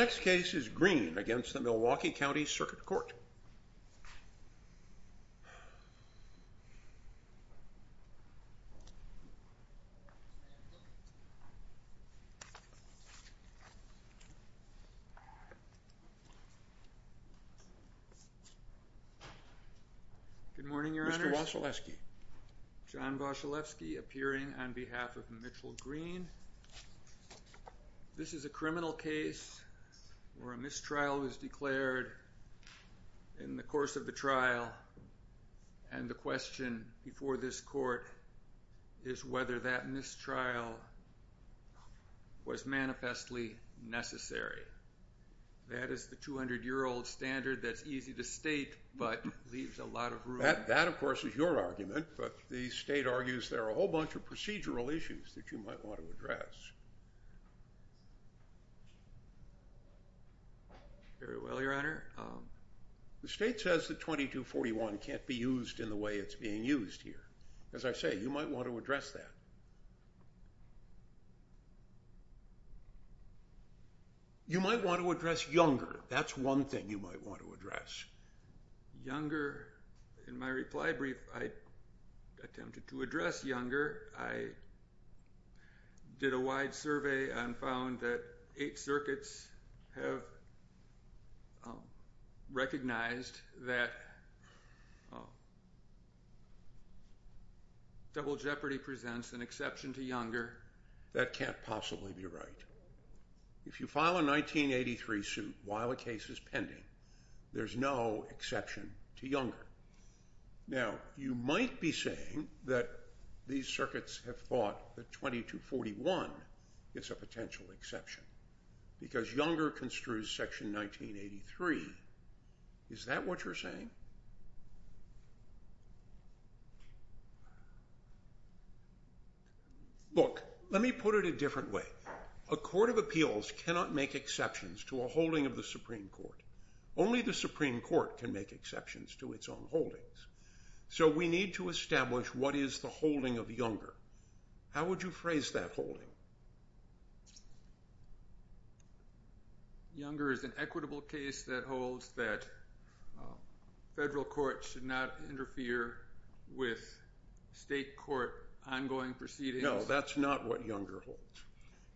Next case is Green against the Milwaukee County Circuit Court. Good morning, Your Honors. Mr. Wasilewski. John Wasilewski appearing on behalf of Mitchell Green. This is a criminal case where a mistrial was declared in the course of the trial, and the question before this court is whether that mistrial was manifestly necessary. That is the 200-year-old standard that's easy to state, but leaves a lot of room. That, of course, is your argument, but the state argues there are a whole bunch of procedural issues that you might want to address. Very well, Your Honor. The state says that 2241 can't be used in the way it's being used here. As I say, you might want to address that. You might want to address younger. That's one thing you might want to address. Younger. In my reply brief, I attempted to address younger. I did a wide survey and found that eight circuits have recognized that Double Jeopardy presents an exception to younger. That can't possibly be right. If you file a 1983 suit while a case is pending, there's no exception to younger. Now, you might be saying that these circuits have thought that 2241 is a potential exception because younger construes Section 1983. Is that what you're saying? Look, let me put it a different way. A court of appeals cannot make exceptions to a holding of the Supreme Court. Only the Supreme Court can make exceptions to its own holdings. We need to establish what is the holding of younger. How would you phrase that holding? Younger is an equitable case that holds that federal courts should not interfere with state court ongoing proceedings. No, that's not what younger holds.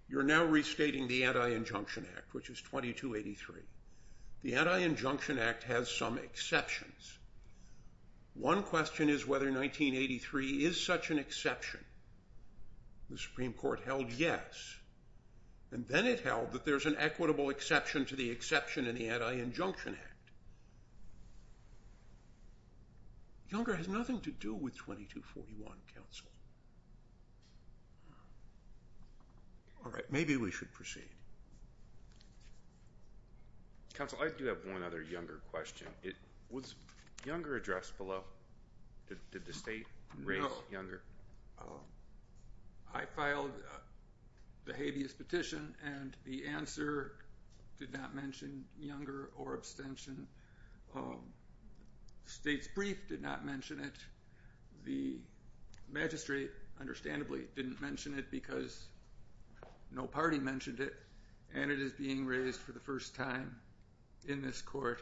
You're now restating the Anti-Injunction Act, which is 2283. The Anti-Injunction Act has some exceptions. One question is whether 1983 is such an exception. The Supreme Court held yes, and then it held that there's an equitable exception to the exception in the Anti-Injunction Act. Younger has nothing to do with 2241, counsel. All right, maybe we should proceed. Counsel, I do have one other younger question. Was younger addressed below? Did the state rate younger? I filed the habeas petition, and the answer did not mention younger or abstention. The state's brief did not mention it. The magistrate, understandably, didn't mention it because no party mentioned it, and it is being raised for the first time in this court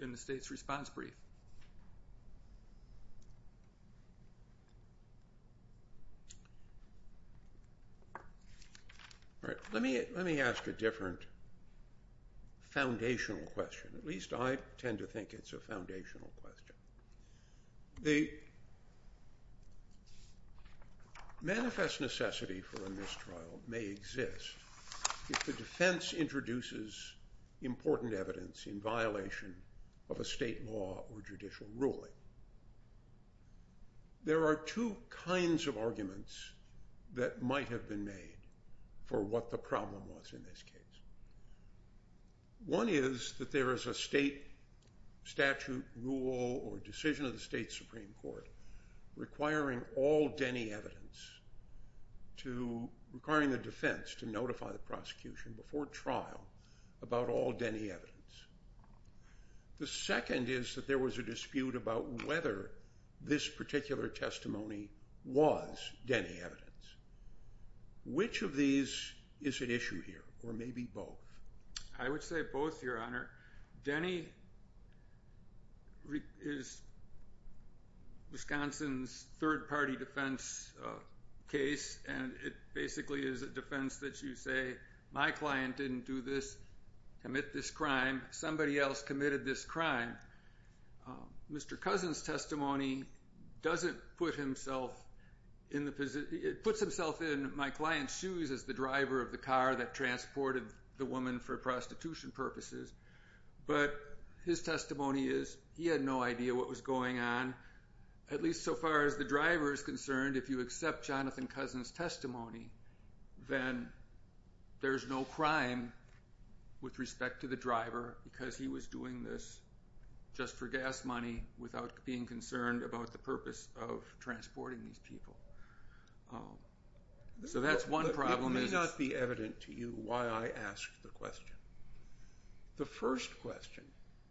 in the state's response brief. All right, let me ask a different foundational question. At least I tend to think it's a foundational question. The manifest necessity for a mistrial may exist if the defense introduces important evidence in violation of a state law or judicial ruling. There are two kinds of arguments that might have been made for what the problem was in this case. One is that there is a state statute, rule, or decision of the state Supreme Court requiring all Denny evidence, requiring the defense to notify the prosecution before trial about all Denny evidence. The second is that there was a dispute about whether this particular testimony was Denny evidence. Which of these is at issue here, or maybe both? I would say both, Your Honor. Denny is Wisconsin's third-party defense case, and it basically is a defense that you say, my client didn't do this, commit this crime, somebody else committed this crime. Mr. Cousin's testimony puts himself in my client's shoes as the driver of the car that transported the woman for prostitution purposes. But his testimony is he had no idea what was going on, at least so far as the driver is concerned. If you accept Jonathan Cousin's testimony, then there's no crime with respect to the driver because he was doing this just for gas money without being concerned about the purpose of transporting these people. So that's one problem. It may not be evident to you why I asked the question. The first question,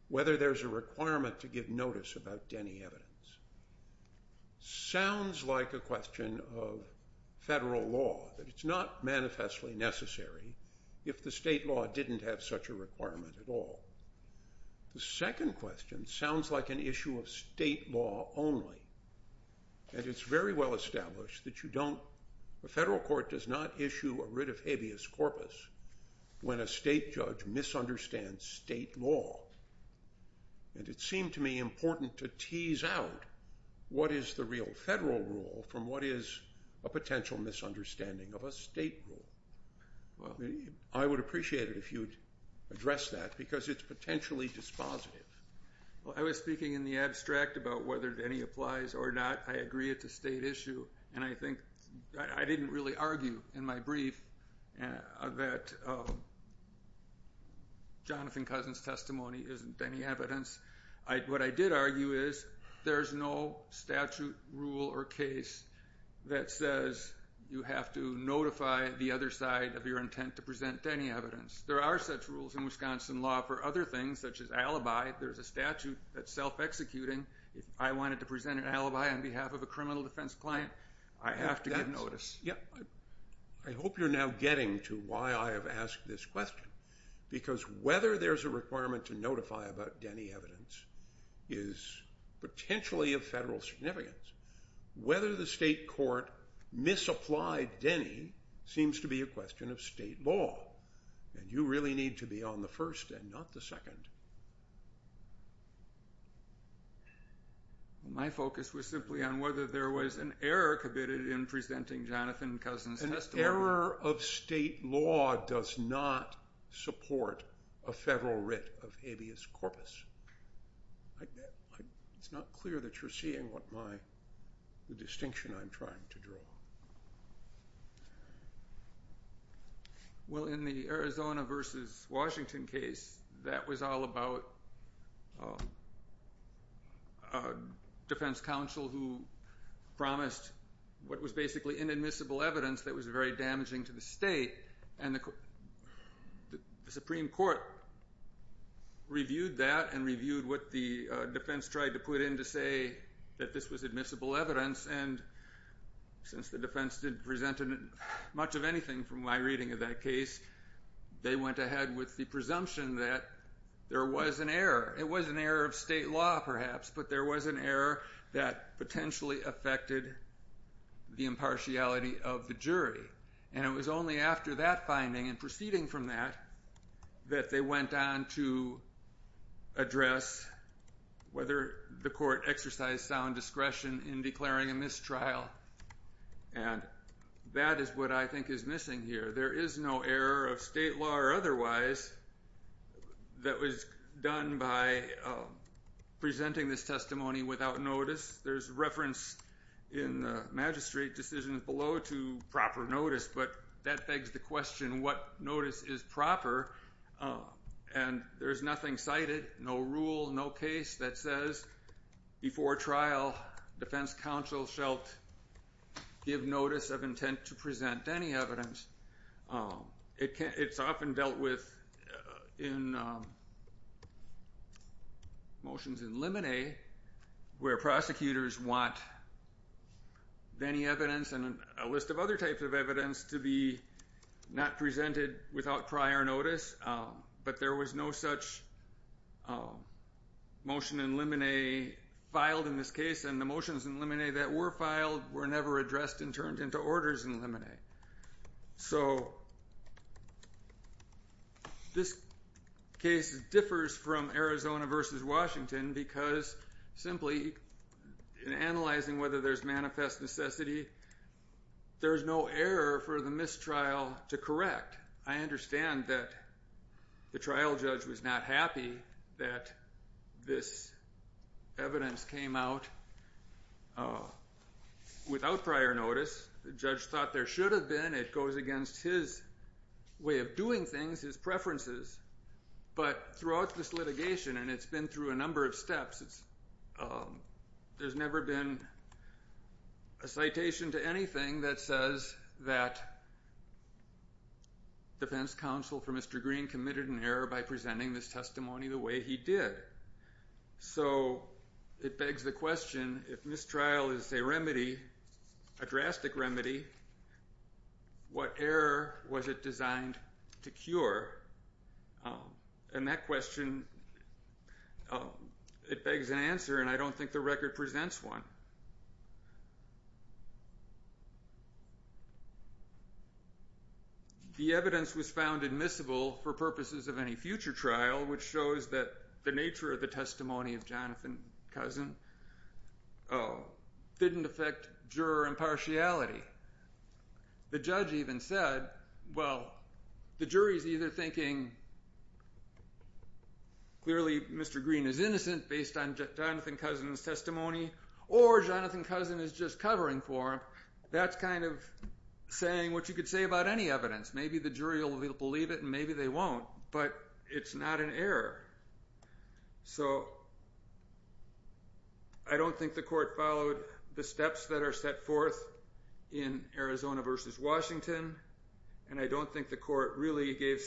whether there's a requirement to give notice about Denny evidence, sounds like a question of federal law. It's not manifestly necessary if the state law didn't have such a requirement at all. The second question sounds like an issue of state law only. And it's very well established that the federal court does not issue a writ of habeas corpus when a state judge misunderstands state law. And it seemed to me important to tease out what is the real federal rule from what is a potential misunderstanding of a state rule. I would appreciate it if you'd address that because it's potentially dispositive. I was speaking in the abstract about whether Denny applies or not. I agree it's a state issue, and I think I didn't really argue in my brief that Jonathan Cousin's testimony isn't Denny evidence. What I did argue is there's no statute, rule, or case that says you have to notify the other side of your intent to present Denny evidence. There are such rules in Wisconsin law for other things such as alibi. There's a statute that's self-executing. If I wanted to present an alibi on behalf of a criminal defense client, I have to give notice. I hope you're now getting to why I have asked this question because whether there's a requirement to notify about Denny evidence is potentially of federal significance. Whether the state court misapplied Denny seems to be a question of state law. You really need to be on the first and not the second. My focus was simply on whether there was an error committed in presenting Jonathan Cousin's testimony. An error of state law does not support a federal writ of habeas corpus. It's not clear that you're seeing the distinction I'm trying to draw. Well, in the Arizona versus Washington case, that was all about a defense counsel who promised what was basically inadmissible evidence that was very damaging to the state. The Supreme Court reviewed that and reviewed what the defense tried to put in to say that this was admissible evidence. Since the defense didn't present much of anything from my reading of that case, they went ahead with the presumption that there was an error. It was an error of state law, perhaps, but there was an error that potentially affected the impartiality of the jury. It was only after that finding and proceeding from that that they went on to address whether the court exercised sound discretion in declaring a mistrial, and that is what I think is missing here. There is no error of state law or otherwise that was done by presenting this testimony without notice. There's reference in the magistrate decisions below to proper notice, but that begs the question what notice is proper, and there's nothing cited, no rule, no case that says before trial defense counsel shall give notice of intent to present any evidence. It's often dealt with in motions in limine where prosecutors want any evidence and a list of other types of evidence to be not presented without prior notice, but there was no such motion in limine filed in this case, and the motions in limine that were filed were never addressed and turned into orders in limine. So this case differs from Arizona versus Washington because simply in analyzing whether there's manifest necessity, there's no error for the mistrial to correct. I understand that the trial judge was not happy that this evidence came out without prior notice. The judge thought there should have been. It goes against his way of doing things, his preferences. But throughout this litigation, and it's been through a number of steps, there's never been a citation to anything that says that defense counsel for Mr. Green committed an error by presenting this testimony the way he did. So it begs the question, if mistrial is a remedy, a drastic remedy, what error was it designed to cure? And that question, it begs an answer, and I don't think the record presents one. The evidence was found admissible for purposes of any future trial, which shows that the nature of the testimony of Jonathan Cousin didn't affect juror impartiality. The judge even said, well, the jury's either thinking clearly Mr. Green is innocent based on Jonathan Cousin's testimony or Jonathan Cousin is just covering for him. That's kind of saying what you could say about any evidence. Maybe the jury will believe it and maybe they won't, but it's not an error. So I don't think the court followed the steps that are set forth in Arizona v. Washington, and I don't think the court really gave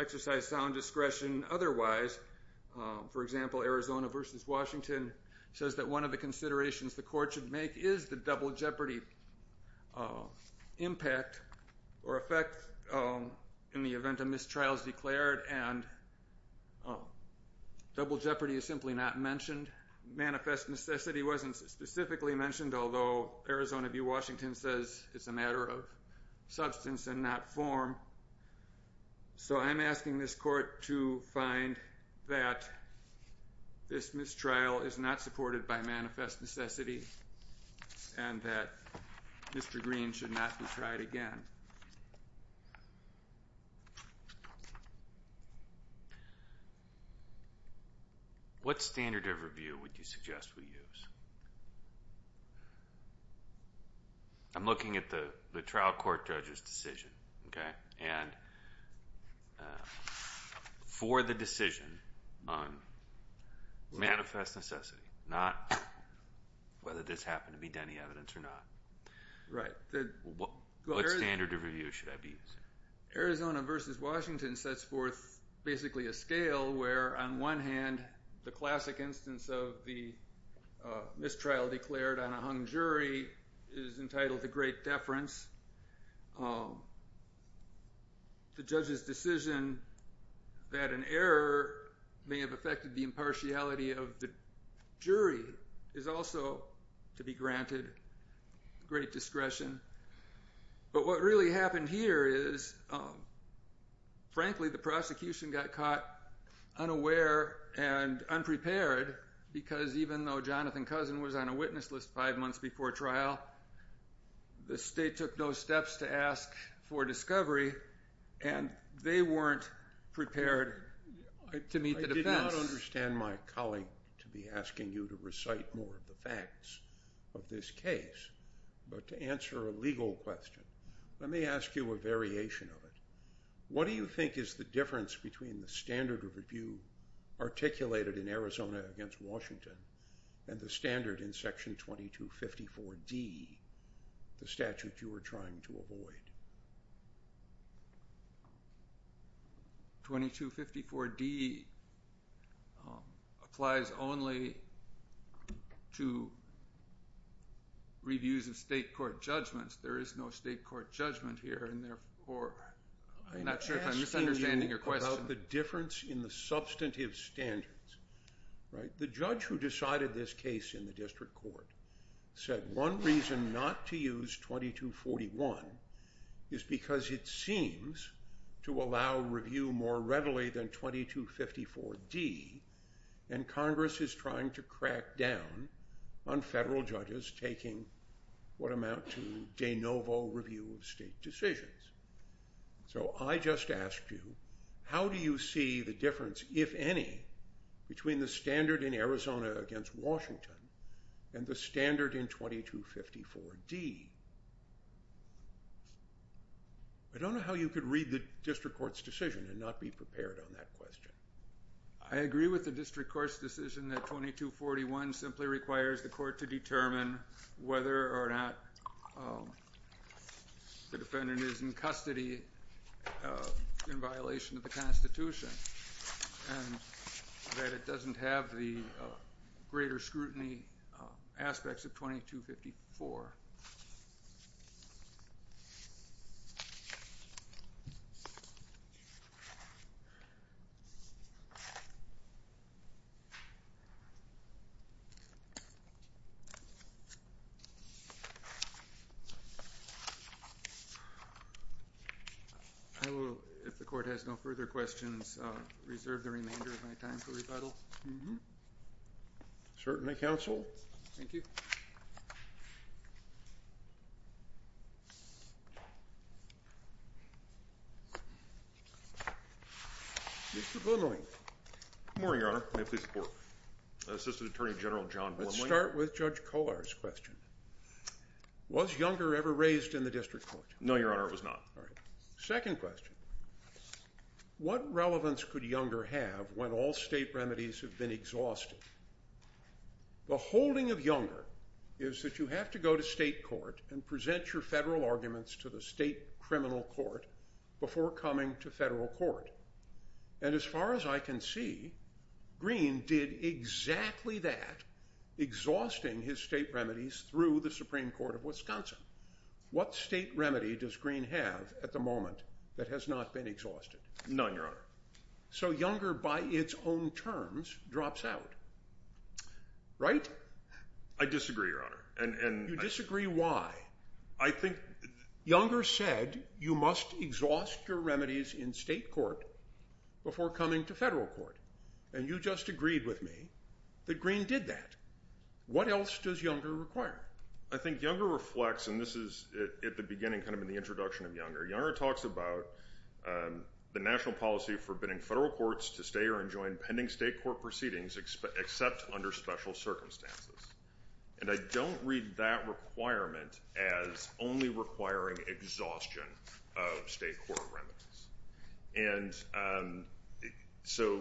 exercise sound discretion otherwise. For example, Arizona v. Washington says that one of the considerations the court should make is the double jeopardy impact or effect in the event a mistrial is declared and double jeopardy is simply not mentioned. Manifest necessity wasn't specifically mentioned, although Arizona v. Washington says it's a matter of substance and not form. So I'm asking this court to find that this mistrial is not supported by manifest necessity and that Mr. Green should not be tried again. What standard of review would you suggest we use? I'm looking at the trial court judge's decision, okay, and for the decision on manifest necessity, not whether this happened to be Denny evidence or not. Right. What standard of review should I be using? Arizona v. Washington sets forth basically a scale where, on one hand, the classic instance of the mistrial declared on a hung jury is entitled to great deference. The judge's decision that an error may have affected the impartiality of the jury is also to be granted great discretion. But what really happened here is, frankly, the prosecution got caught unaware and unprepared because even though Jonathan Cousin was on a witness list five months before trial, the state took those steps to ask for discovery, and they weren't prepared to meet the defense. I did not understand my colleague to be asking you to recite more of the facts of this case, but to answer a legal question, let me ask you a variation of it. What do you think is the difference between the standard of review articulated in Arizona v. Washington and the standard in Section 2254D, the statute you were trying to avoid? 2254D applies only to reviews of state court judgments. There is no state court judgment here, and therefore I'm not sure if I'm misunderstanding your question. I'm asking you about the difference in the substantive standards. The judge who decided this case in the district court said one reason not to use 2241 is because it seems to allow review more readily than 2254D, and Congress is trying to crack down on federal judges taking what amount to de novo review of state decisions. So I just asked you, how do you see the difference, if any, between the standard in Arizona against Washington and the standard in 2254D? I don't know how you could read the district court's decision and not be prepared on that question. I agree with the district court's decision that 2241 simply requires the court to determine whether or not the defendant is in custody in violation of the Constitution and that it doesn't have the greater scrutiny aspects of 2254. I will, if the court has no further questions, reserve the remainder of my time for rebuttal. Certainly, counsel. Thank you. Mr. Blumling. Good morning, Your Honor. May I please report? Assistant Attorney General John Blumling. Let's start with Judge Kollar's question. Was Younger ever raised in the district court? No, Your Honor, it was not. All right. Second question. What relevance could Younger have when all state remedies have been exhausted? The holding of Younger is that you have to go to state court and present your federal arguments to the state criminal court before coming to federal court. And as far as I can see, Green did exactly that, exhausting his state remedies through the Supreme Court of Wisconsin. What state remedy does Green have at the moment that has not been exhausted? None, Your Honor. So Younger, by its own terms, drops out. Right? I disagree, Your Honor. You disagree why? I think— Younger said you must exhaust your remedies in state court before coming to federal court. And you just agreed with me that Green did that. What else does Younger require? I think Younger reflects—and this is at the beginning, kind of in the introduction of Younger— Younger talks about the national policy forbidding federal courts to stay or enjoin pending state court proceedings except under special circumstances. And I don't read that requirement as only requiring exhaustion of state court remedies. And so—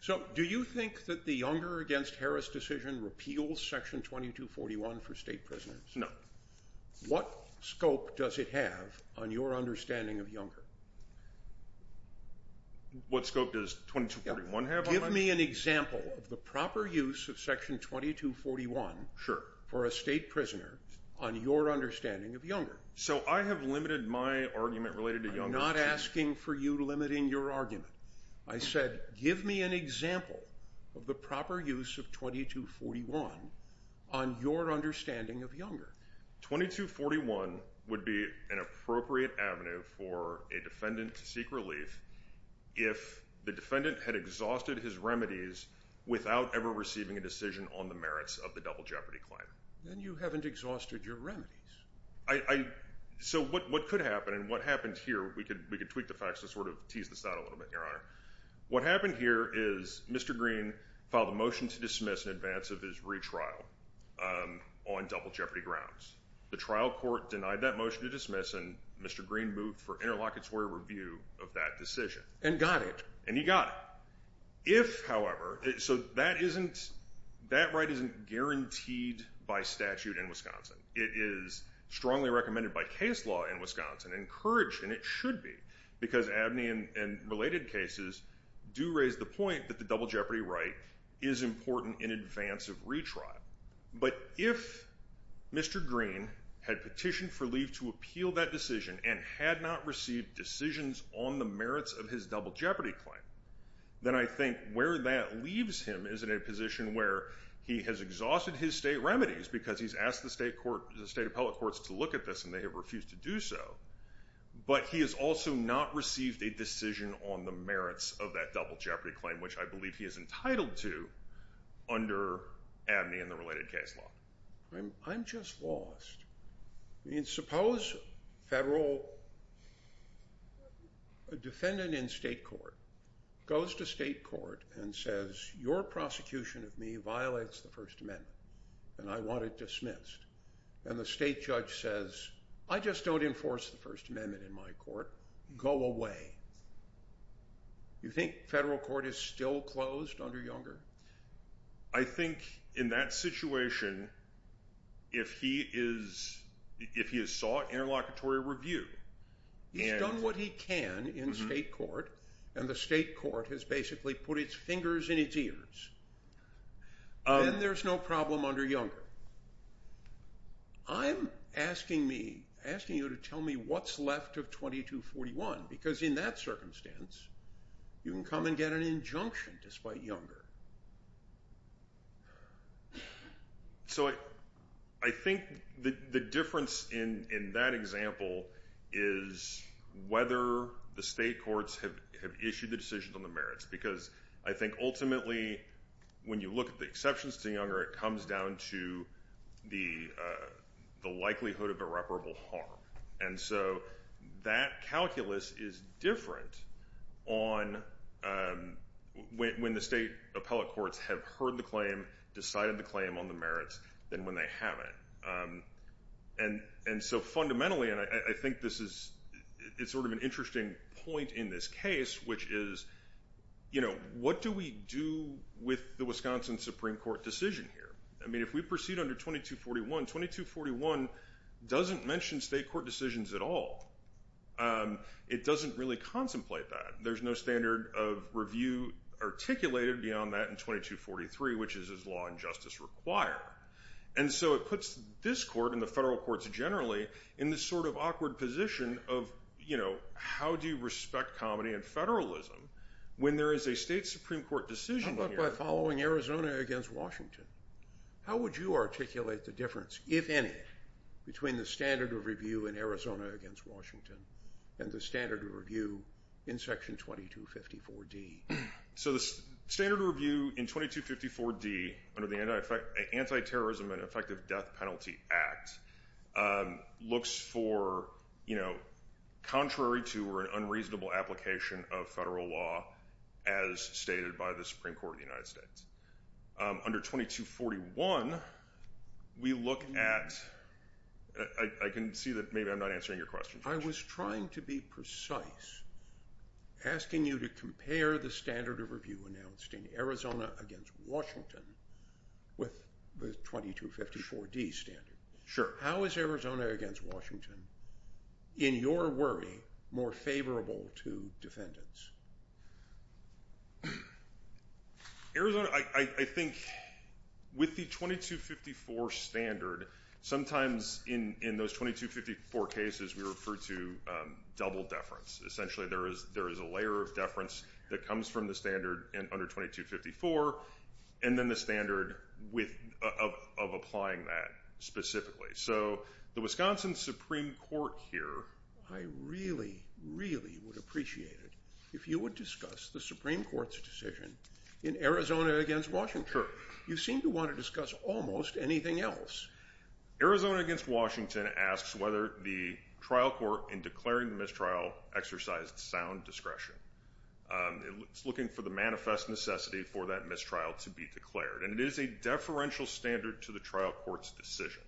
So do you think that the Younger v. Harris decision repeals Section 2241 for state prisoners? No. What scope does it have on your understanding of Younger? What scope does 2241 have on that? Give me an example of the proper use of Section 2241 for a state prisoner on your understanding of Younger. So I have limited my argument related to Younger to— I'm not asking for you limiting your argument. I said give me an example of the proper use of 2241 on your understanding of Younger. 2241 would be an appropriate avenue for a defendant to seek relief if the defendant had exhausted his remedies without ever receiving a decision on the merits of the double jeopardy claim. Then you haven't exhausted your remedies. So what could happen and what happened here—we could tweak the facts to sort of tease this out a little bit, Your Honor. What happened here is Mr. Green filed a motion to dismiss in advance of his retrial on double jeopardy grounds. The trial court denied that motion to dismiss, and Mr. Green moved for interlocutory review of that decision. And got it. And he got it. If, however—so that right isn't guaranteed by statute in Wisconsin. It is strongly recommended by case law in Wisconsin, encouraged, and it should be, because Abney and related cases do raise the point that the double jeopardy right is important in advance of retrial. But if Mr. Green had petitioned for leave to appeal that decision and had not received decisions on the merits of his double jeopardy claim, then I think where that leaves him is in a position where he has exhausted his state remedies because he's asked the state appellate courts to look at this and they have refused to do so. But he has also not received a decision on the merits of that double jeopardy claim, which I believe he is entitled to under Abney and the related case law. I'm just lost. I mean, suppose a federal defendant in state court goes to state court and says, Your prosecution of me violates the First Amendment, and I want it dismissed. And the state judge says, I just don't enforce the First Amendment in my court. Go away. You think federal court is still closed under Younger? I think in that situation, if he has sought interlocutory review— He's done what he can in state court, and the state court has basically put its fingers in its ears. Then there's no problem under Younger. I'm asking you to tell me what's left of 2241 because in that circumstance, you can come and get an injunction despite Younger. So I think the difference in that example is whether the state courts have issued the decisions on the merits because I think ultimately when you look at the exceptions to Younger, it comes down to the likelihood of irreparable harm. And so that calculus is different when the state appellate courts have heard the claim, decided the claim on the merits, than when they haven't. And so fundamentally, and I think this is sort of an interesting point in this case, which is what do we do with the Wisconsin Supreme Court decision here? I mean, if we proceed under 2241, 2241 doesn't mention state court decisions at all. It doesn't really contemplate that. There's no standard of review articulated beyond that in 2243, which is as law and justice require. And so it puts this court and the federal courts generally in this sort of awkward position of, you know, how do you respect comedy and federalism when there is a state Supreme Court decision here? If I'm following Arizona against Washington, how would you articulate the difference, if any, between the standard of review in Arizona against Washington and the standard of review in Section 2254D? So the standard of review in 2254D under the Anti-Terrorism and Effective Death Penalty Act looks for, you know, contrary to an unreasonable application of federal law as stated by the Supreme Court of the United States. Under 2241, we look at, I can see that maybe I'm not answering your question. I was trying to be precise, asking you to compare the standard of review announced in Arizona against Washington with the 2254D standard. Sure. How is Arizona against Washington, in your worry, more favorable to defendants? Arizona, I think with the 2254 standard, sometimes in those 2254 cases we refer to double deference. Essentially there is a layer of deference that comes from the standard under 2254 and then the standard of applying that specifically. So the Wisconsin Supreme Court here, I really, really would appreciate it if you would discuss the Supreme Court's decision in Arizona against Washington. Sure. You seem to want to discuss almost anything else. Arizona against Washington asks whether the trial court in declaring the mistrial exercised sound discretion. It's looking for the manifest necessity for that mistrial to be declared. And it is a deferential standard to the trial court's decision.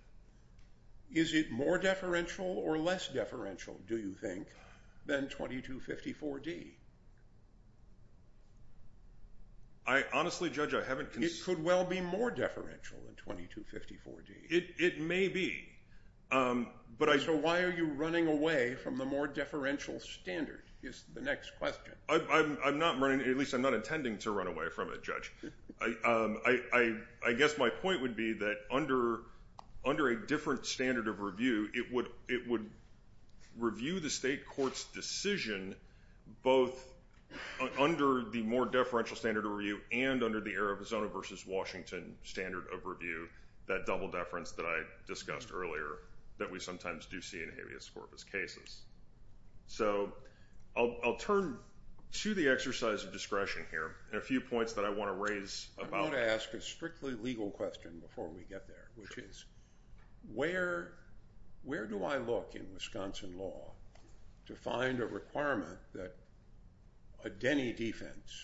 Is it more deferential or less deferential, do you think, than 2254D? I honestly, Judge, I haven't considered. It could well be more deferential than 2254D. It may be. So why are you running away from the more deferential standard is the next question. At least I'm not intending to run away from it, Judge. I guess my point would be that under a different standard of review, it would review the state court's decision both under the more deferential standard of review and under the Arizona versus Washington standard of review, that double deference that I discussed earlier that we sometimes do see in habeas corpus cases. So I'll turn to the exercise of discretion here and a few points that I want to raise about it. I want to ask a strictly legal question before we get there, which is where do I look in Wisconsin law to find a requirement that a Denny defense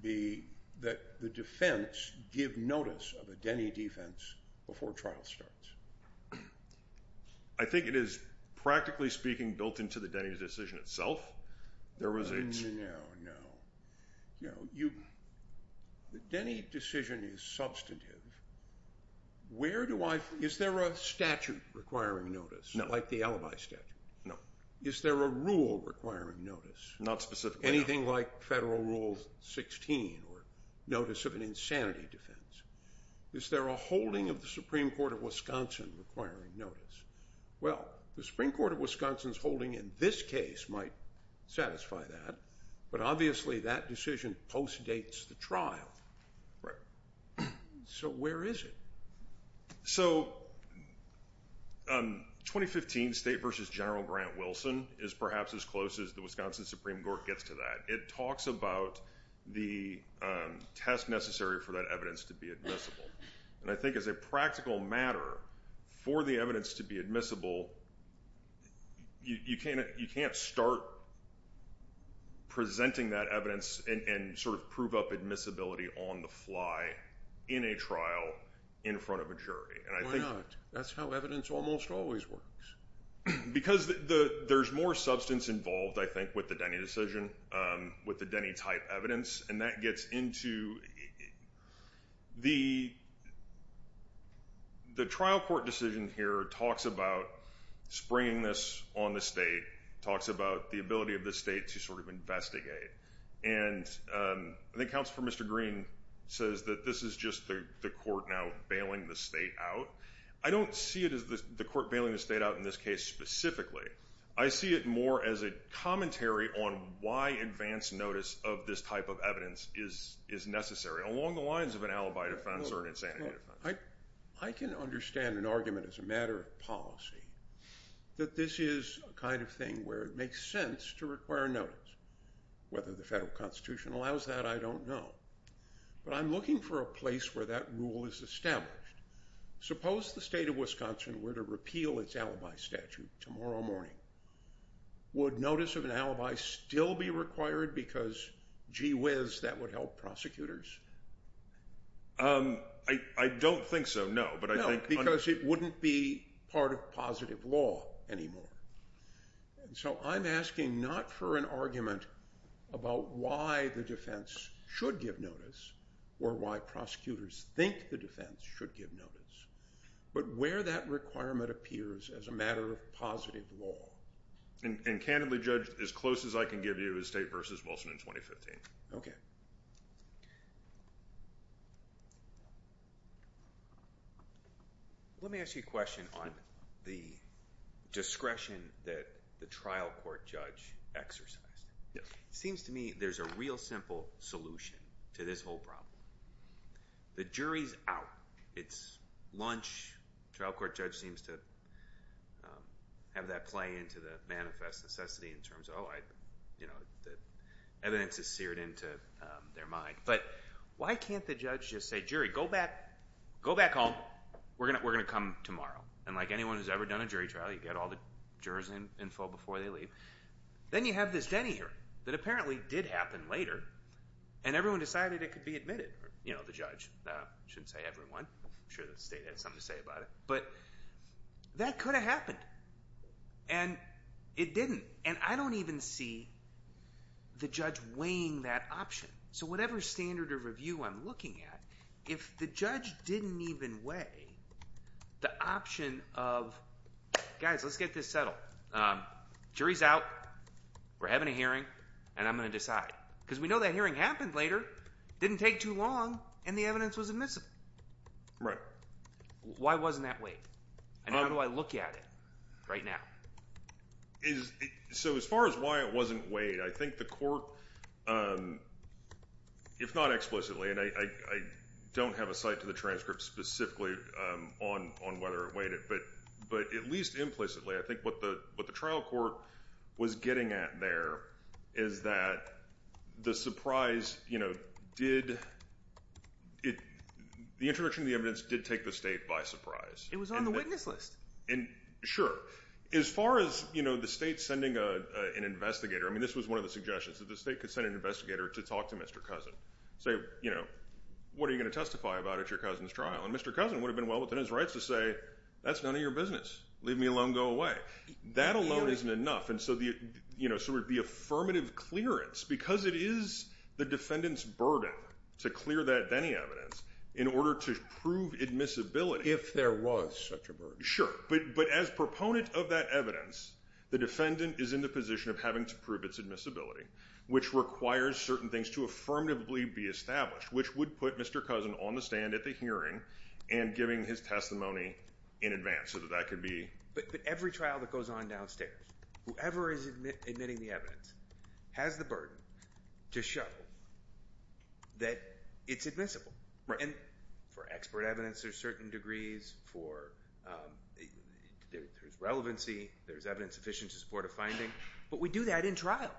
be that the defense give notice of a Denny defense before trial starts? I think it is, practically speaking, built into the Denny decision itself. There was a... No, no, no. You know, the Denny decision is substantive. Where do I, is there a statute requiring notice? No. Unlike the alibi statute. No. Is there a rule requiring notice? Not specifically. Anything like Federal Rule 16 or notice of an insanity defense. Is there a holding of the Supreme Court of Wisconsin requiring notice? Well, the Supreme Court of Wisconsin's holding in this case might satisfy that, but obviously that decision postdates the trial. Right. So where is it? So 2015 State versus General Grant Wilson is perhaps as close as the Wisconsin Supreme Court gets to that. It talks about the test necessary for that evidence to be admissible. And I think as a practical matter, for the evidence to be admissible, you can't start presenting that evidence and sort of prove up admissibility on the fly in a trial in front of a jury. Why not? That's how evidence almost always works. Because there's more substance involved, I think, with the Denny decision, with the Denny type evidence, and that gets into the trial court decision here talks about springing this on the state, talks about the ability of the state to sort of investigate. And I think Counsel for Mr. Green says that this is just the court now bailing the state out. I don't see it as the court bailing the state out in this case specifically. I see it more as a commentary on why advance notice of this type of evidence is necessary, along the lines of an alibi defense or an insanity defense. I can understand an argument as a matter of policy that this is a kind of thing where it makes sense to require notice. Whether the federal constitution allows that, I don't know. But I'm looking for a place where that rule is established. Suppose the state of Wisconsin were to repeal its alibi statute tomorrow morning. Would notice of an alibi still be required because, gee whiz, that would help prosecutors? I don't think so, no. No, because it wouldn't be part of positive law anymore. So I'm asking not for an argument about why the defense should give notice or why prosecutors think the defense should give notice, but where that requirement appears as a matter of positive law. And candidly, Judge, as close as I can give you is State v. Wilson in 2015. Okay. Let me ask you a question on the discretion that the trial court judge exercised. It seems to me there's a real simple solution to this whole problem. The jury's out. It's lunch. The trial court judge seems to have that play into the manifest necessity in terms of, oh, the evidence is seared into their mind. But why can't the judge just say, jury, go back home. We're going to come tomorrow. And like anyone who's ever done a jury trial, you get all the jurors' info before they leave. Then you have this Denny hearing that apparently did happen later, and everyone decided it could be admitted. You know, the judge. I shouldn't say everyone. I'm sure the State had something to say about it. But that could have happened, and it didn't. And I don't even see the judge weighing that option. So whatever standard of review I'm looking at, if the judge didn't even weigh the option of, guys, let's get this settled. Jury's out. We're having a hearing, and I'm going to decide. Because we know that hearing happened later, didn't take too long, and the evidence was admissible. Right. Why wasn't that weighed? And how do I look at it right now? So as far as why it wasn't weighed, I think the court, if not explicitly, and I don't have a site to the transcript specifically on whether it weighed it. But at least implicitly, I think what the trial court was getting at there is that the surprise did, the introduction of the evidence did take the State by surprise. It was on the witness list. Sure. As far as the State sending an investigator, I mean, this was one of the suggestions, that the State could send an investigator to talk to Mr. Cousin. Say, you know, what are you going to testify about at your cousin's trial? And Mr. Cousin would have been well within his rights to say, that's none of your business. Leave me alone, go away. That alone isn't enough. And so the affirmative clearance, because it is the defendant's burden to clear that Denny evidence in order to prove admissibility. If there was such a burden. Sure. But as proponent of that evidence, the defendant is in the position of having to prove its admissibility, which requires certain things to affirmatively be established, which would put Mr. Cousin on the stand at the hearing and giving his testimony in advance, so that that could be. But every trial that goes on downstairs, whoever is admitting the evidence has the burden to show that it's admissible. Right. And for expert evidence, there's certain degrees for, there's relevancy, there's evidence sufficient to support a finding. But we do that in trial.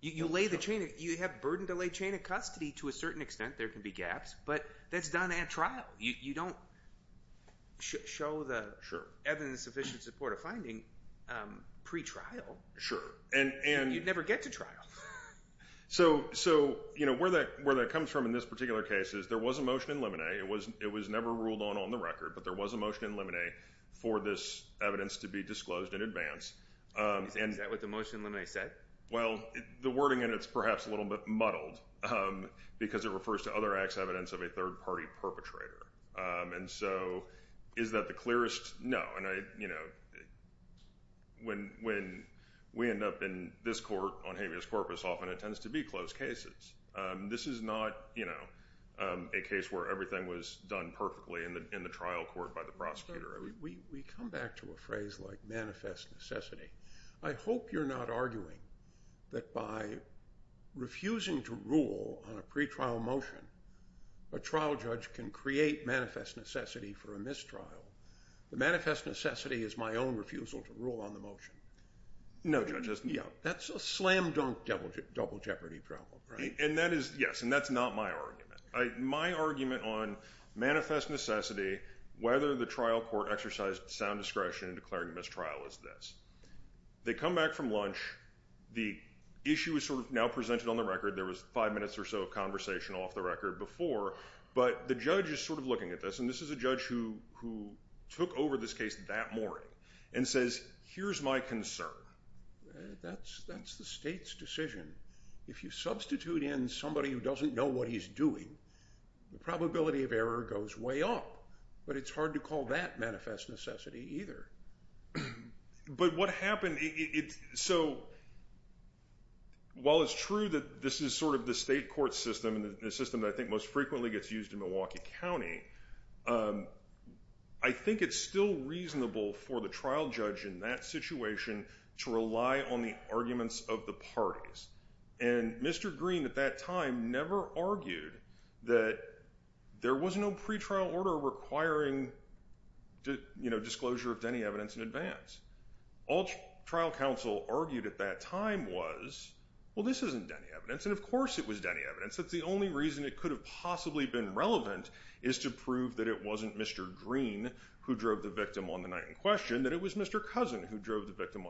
You lay the chain, you have burden to lay chain of custody to a certain extent. There can be gaps. But that's done at trial. You don't show the evidence sufficient to support a finding pre-trial. Sure. You'd never get to trial. So where that comes from in this particular case is there was a motion in limine. It was never ruled on on the record. But there was a motion in limine for this evidence to be disclosed in advance. Is that what the motion in limine said? Well, the wording in it is perhaps a little bit muddled because it refers to other acts of evidence of a third-party perpetrator. And so is that the clearest? No. And, you know, when we end up in this court on habeas corpus, often it tends to be closed cases. This is not, you know, a case where everything was done perfectly in the trial court by the prosecutor. We come back to a phrase like manifest necessity. I hope you're not arguing that by refusing to rule on a pre-trial motion, a trial judge can create manifest necessity for a mistrial. The manifest necessity is my own refusal to rule on the motion. No, Judge. That's a slam dunk double jeopardy problem, right? And that is, yes, and that's not my argument. My argument on manifest necessity, whether the trial court exercised sound discretion in declaring a mistrial is this. They come back from lunch. The issue is sort of now presented on the record. There was five minutes or so of conversation off the record before. But the judge is sort of looking at this, and this is a judge who took over this case that morning and says, here's my concern. That's the state's decision. If you substitute in somebody who doesn't know what he's doing, the probability of error goes way up. But it's hard to call that manifest necessity either. But what happened, so while it's true that this is sort of the state court system and the system that I think most frequently gets used in Milwaukee County, I think it's still reasonable for the trial judge in that situation to rely on the arguments of the parties. And Mr. Green at that time never argued that there was no pretrial order requiring disclosure of any evidence in advance. All trial counsel argued at that time was, well, this isn't any evidence, and of course it was any evidence. That's the only reason it could have possibly been relevant is to prove that it wasn't Mr. Green who drove the victim on the night in question, that it was Mr. Cousin who drove the victim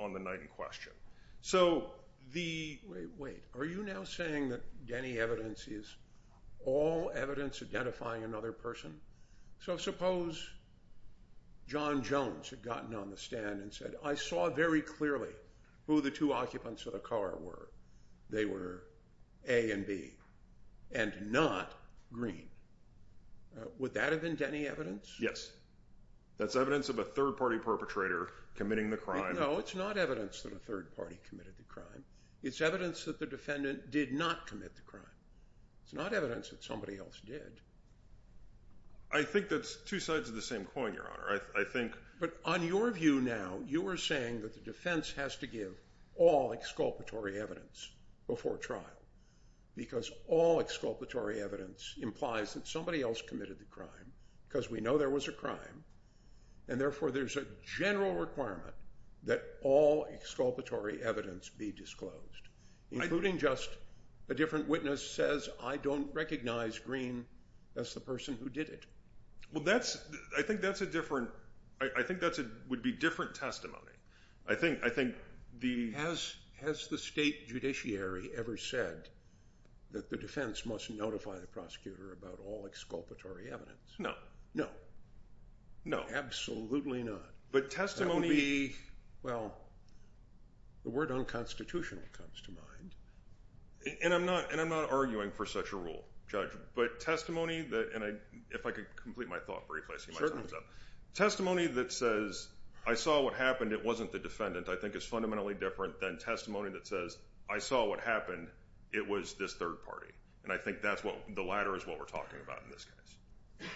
on the night in question. So the, wait, are you now saying that any evidence is all evidence identifying another person? So suppose John Jones had gotten on the stand and said, I saw very clearly who the two occupants of the car were. They were A and B and not Green. Would that have been any evidence? Yes. That's evidence of a third party perpetrator committing the crime. No, it's not evidence that a third party committed the crime. It's evidence that the defendant did not commit the crime. It's not evidence that somebody else did. I think that's two sides of the same coin, Your Honor. But on your view now, you are saying that the defense has to give all exculpatory evidence before trial because all exculpatory evidence implies that somebody else committed the crime because we know there was a crime, and therefore there's a general requirement that all exculpatory evidence be disclosed, including just a different witness says, I don't recognize Green as the person who did it. Well, that's, I think that's a different, I think that would be different testimony. I think the... Has the state judiciary ever said that the defense must notify the prosecutor about all exculpatory evidence? No. No. No. Absolutely not. But testimony... Well, the word unconstitutional comes to mind. And I'm not arguing for such a rule, Judge, but testimony that, and if I could complete my thought briefly. Testimony that says, I saw what happened, it wasn't the defendant, I think is fundamentally different than testimony that says, I saw what happened, it was this third party. And I think that's what, the latter is what we're talking about in this case.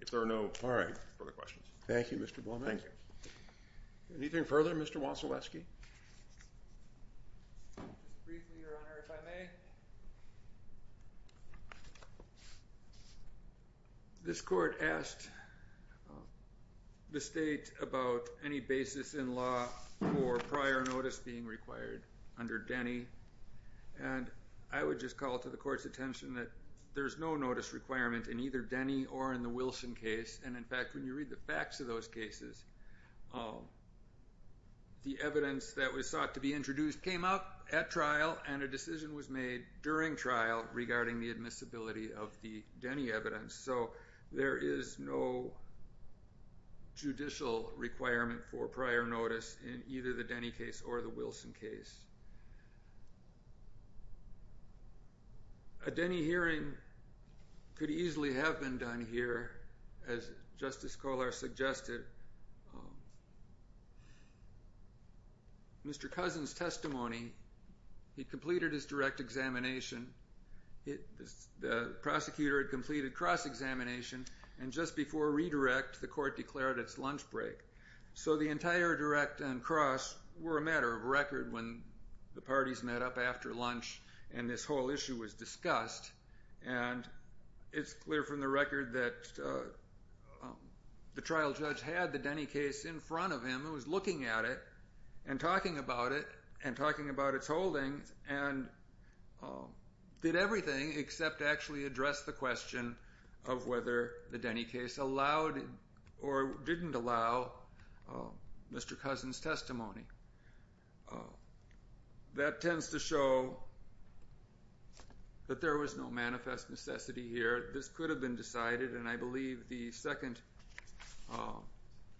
If there are no further questions. Thank you, Mr. Beaumont. Thank you. Anything further, Mr. Wasilewski? Just briefly, Your Honor, if I may. This court asked the state about any basis in law for prior notice being required under Denny. And I would just call to the court's attention that there's no notice requirement in either Denny or in the Wilson case. And in fact, when you read the facts of those cases, the evidence that was sought to be introduced came up at trial, and a decision was made during trial regarding the admissibility of the Denny evidence. So there is no judicial requirement for prior notice in either the Denny case or the Wilson case. A Denny hearing could easily have been done here, as Justice Kohler suggested. Mr. Cousins' testimony, he completed his direct examination, the prosecutor had completed cross-examination, and just before redirect, the court declared its lunch break. So the entire direct and cross were a matter of record when the parties met up after lunch and this whole issue was discussed. And it's clear from the record that the trial judge had the Denny case in front of him and was looking at it and talking about it and talking about its holdings and did everything except actually address the question of whether the Denny case allowed or didn't allow Mr. Cousins' testimony. That tends to show that there was no manifest necessity here. This could have been decided, and I believe the second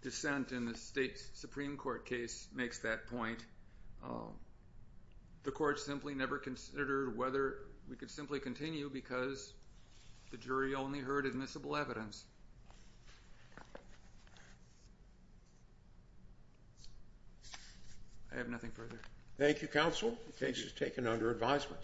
dissent in the state Supreme Court case makes that point. The court simply never considered whether we could simply continue because the jury only heard admissible evidence. I have nothing further. Thank you, counsel. The case is taken under advisement.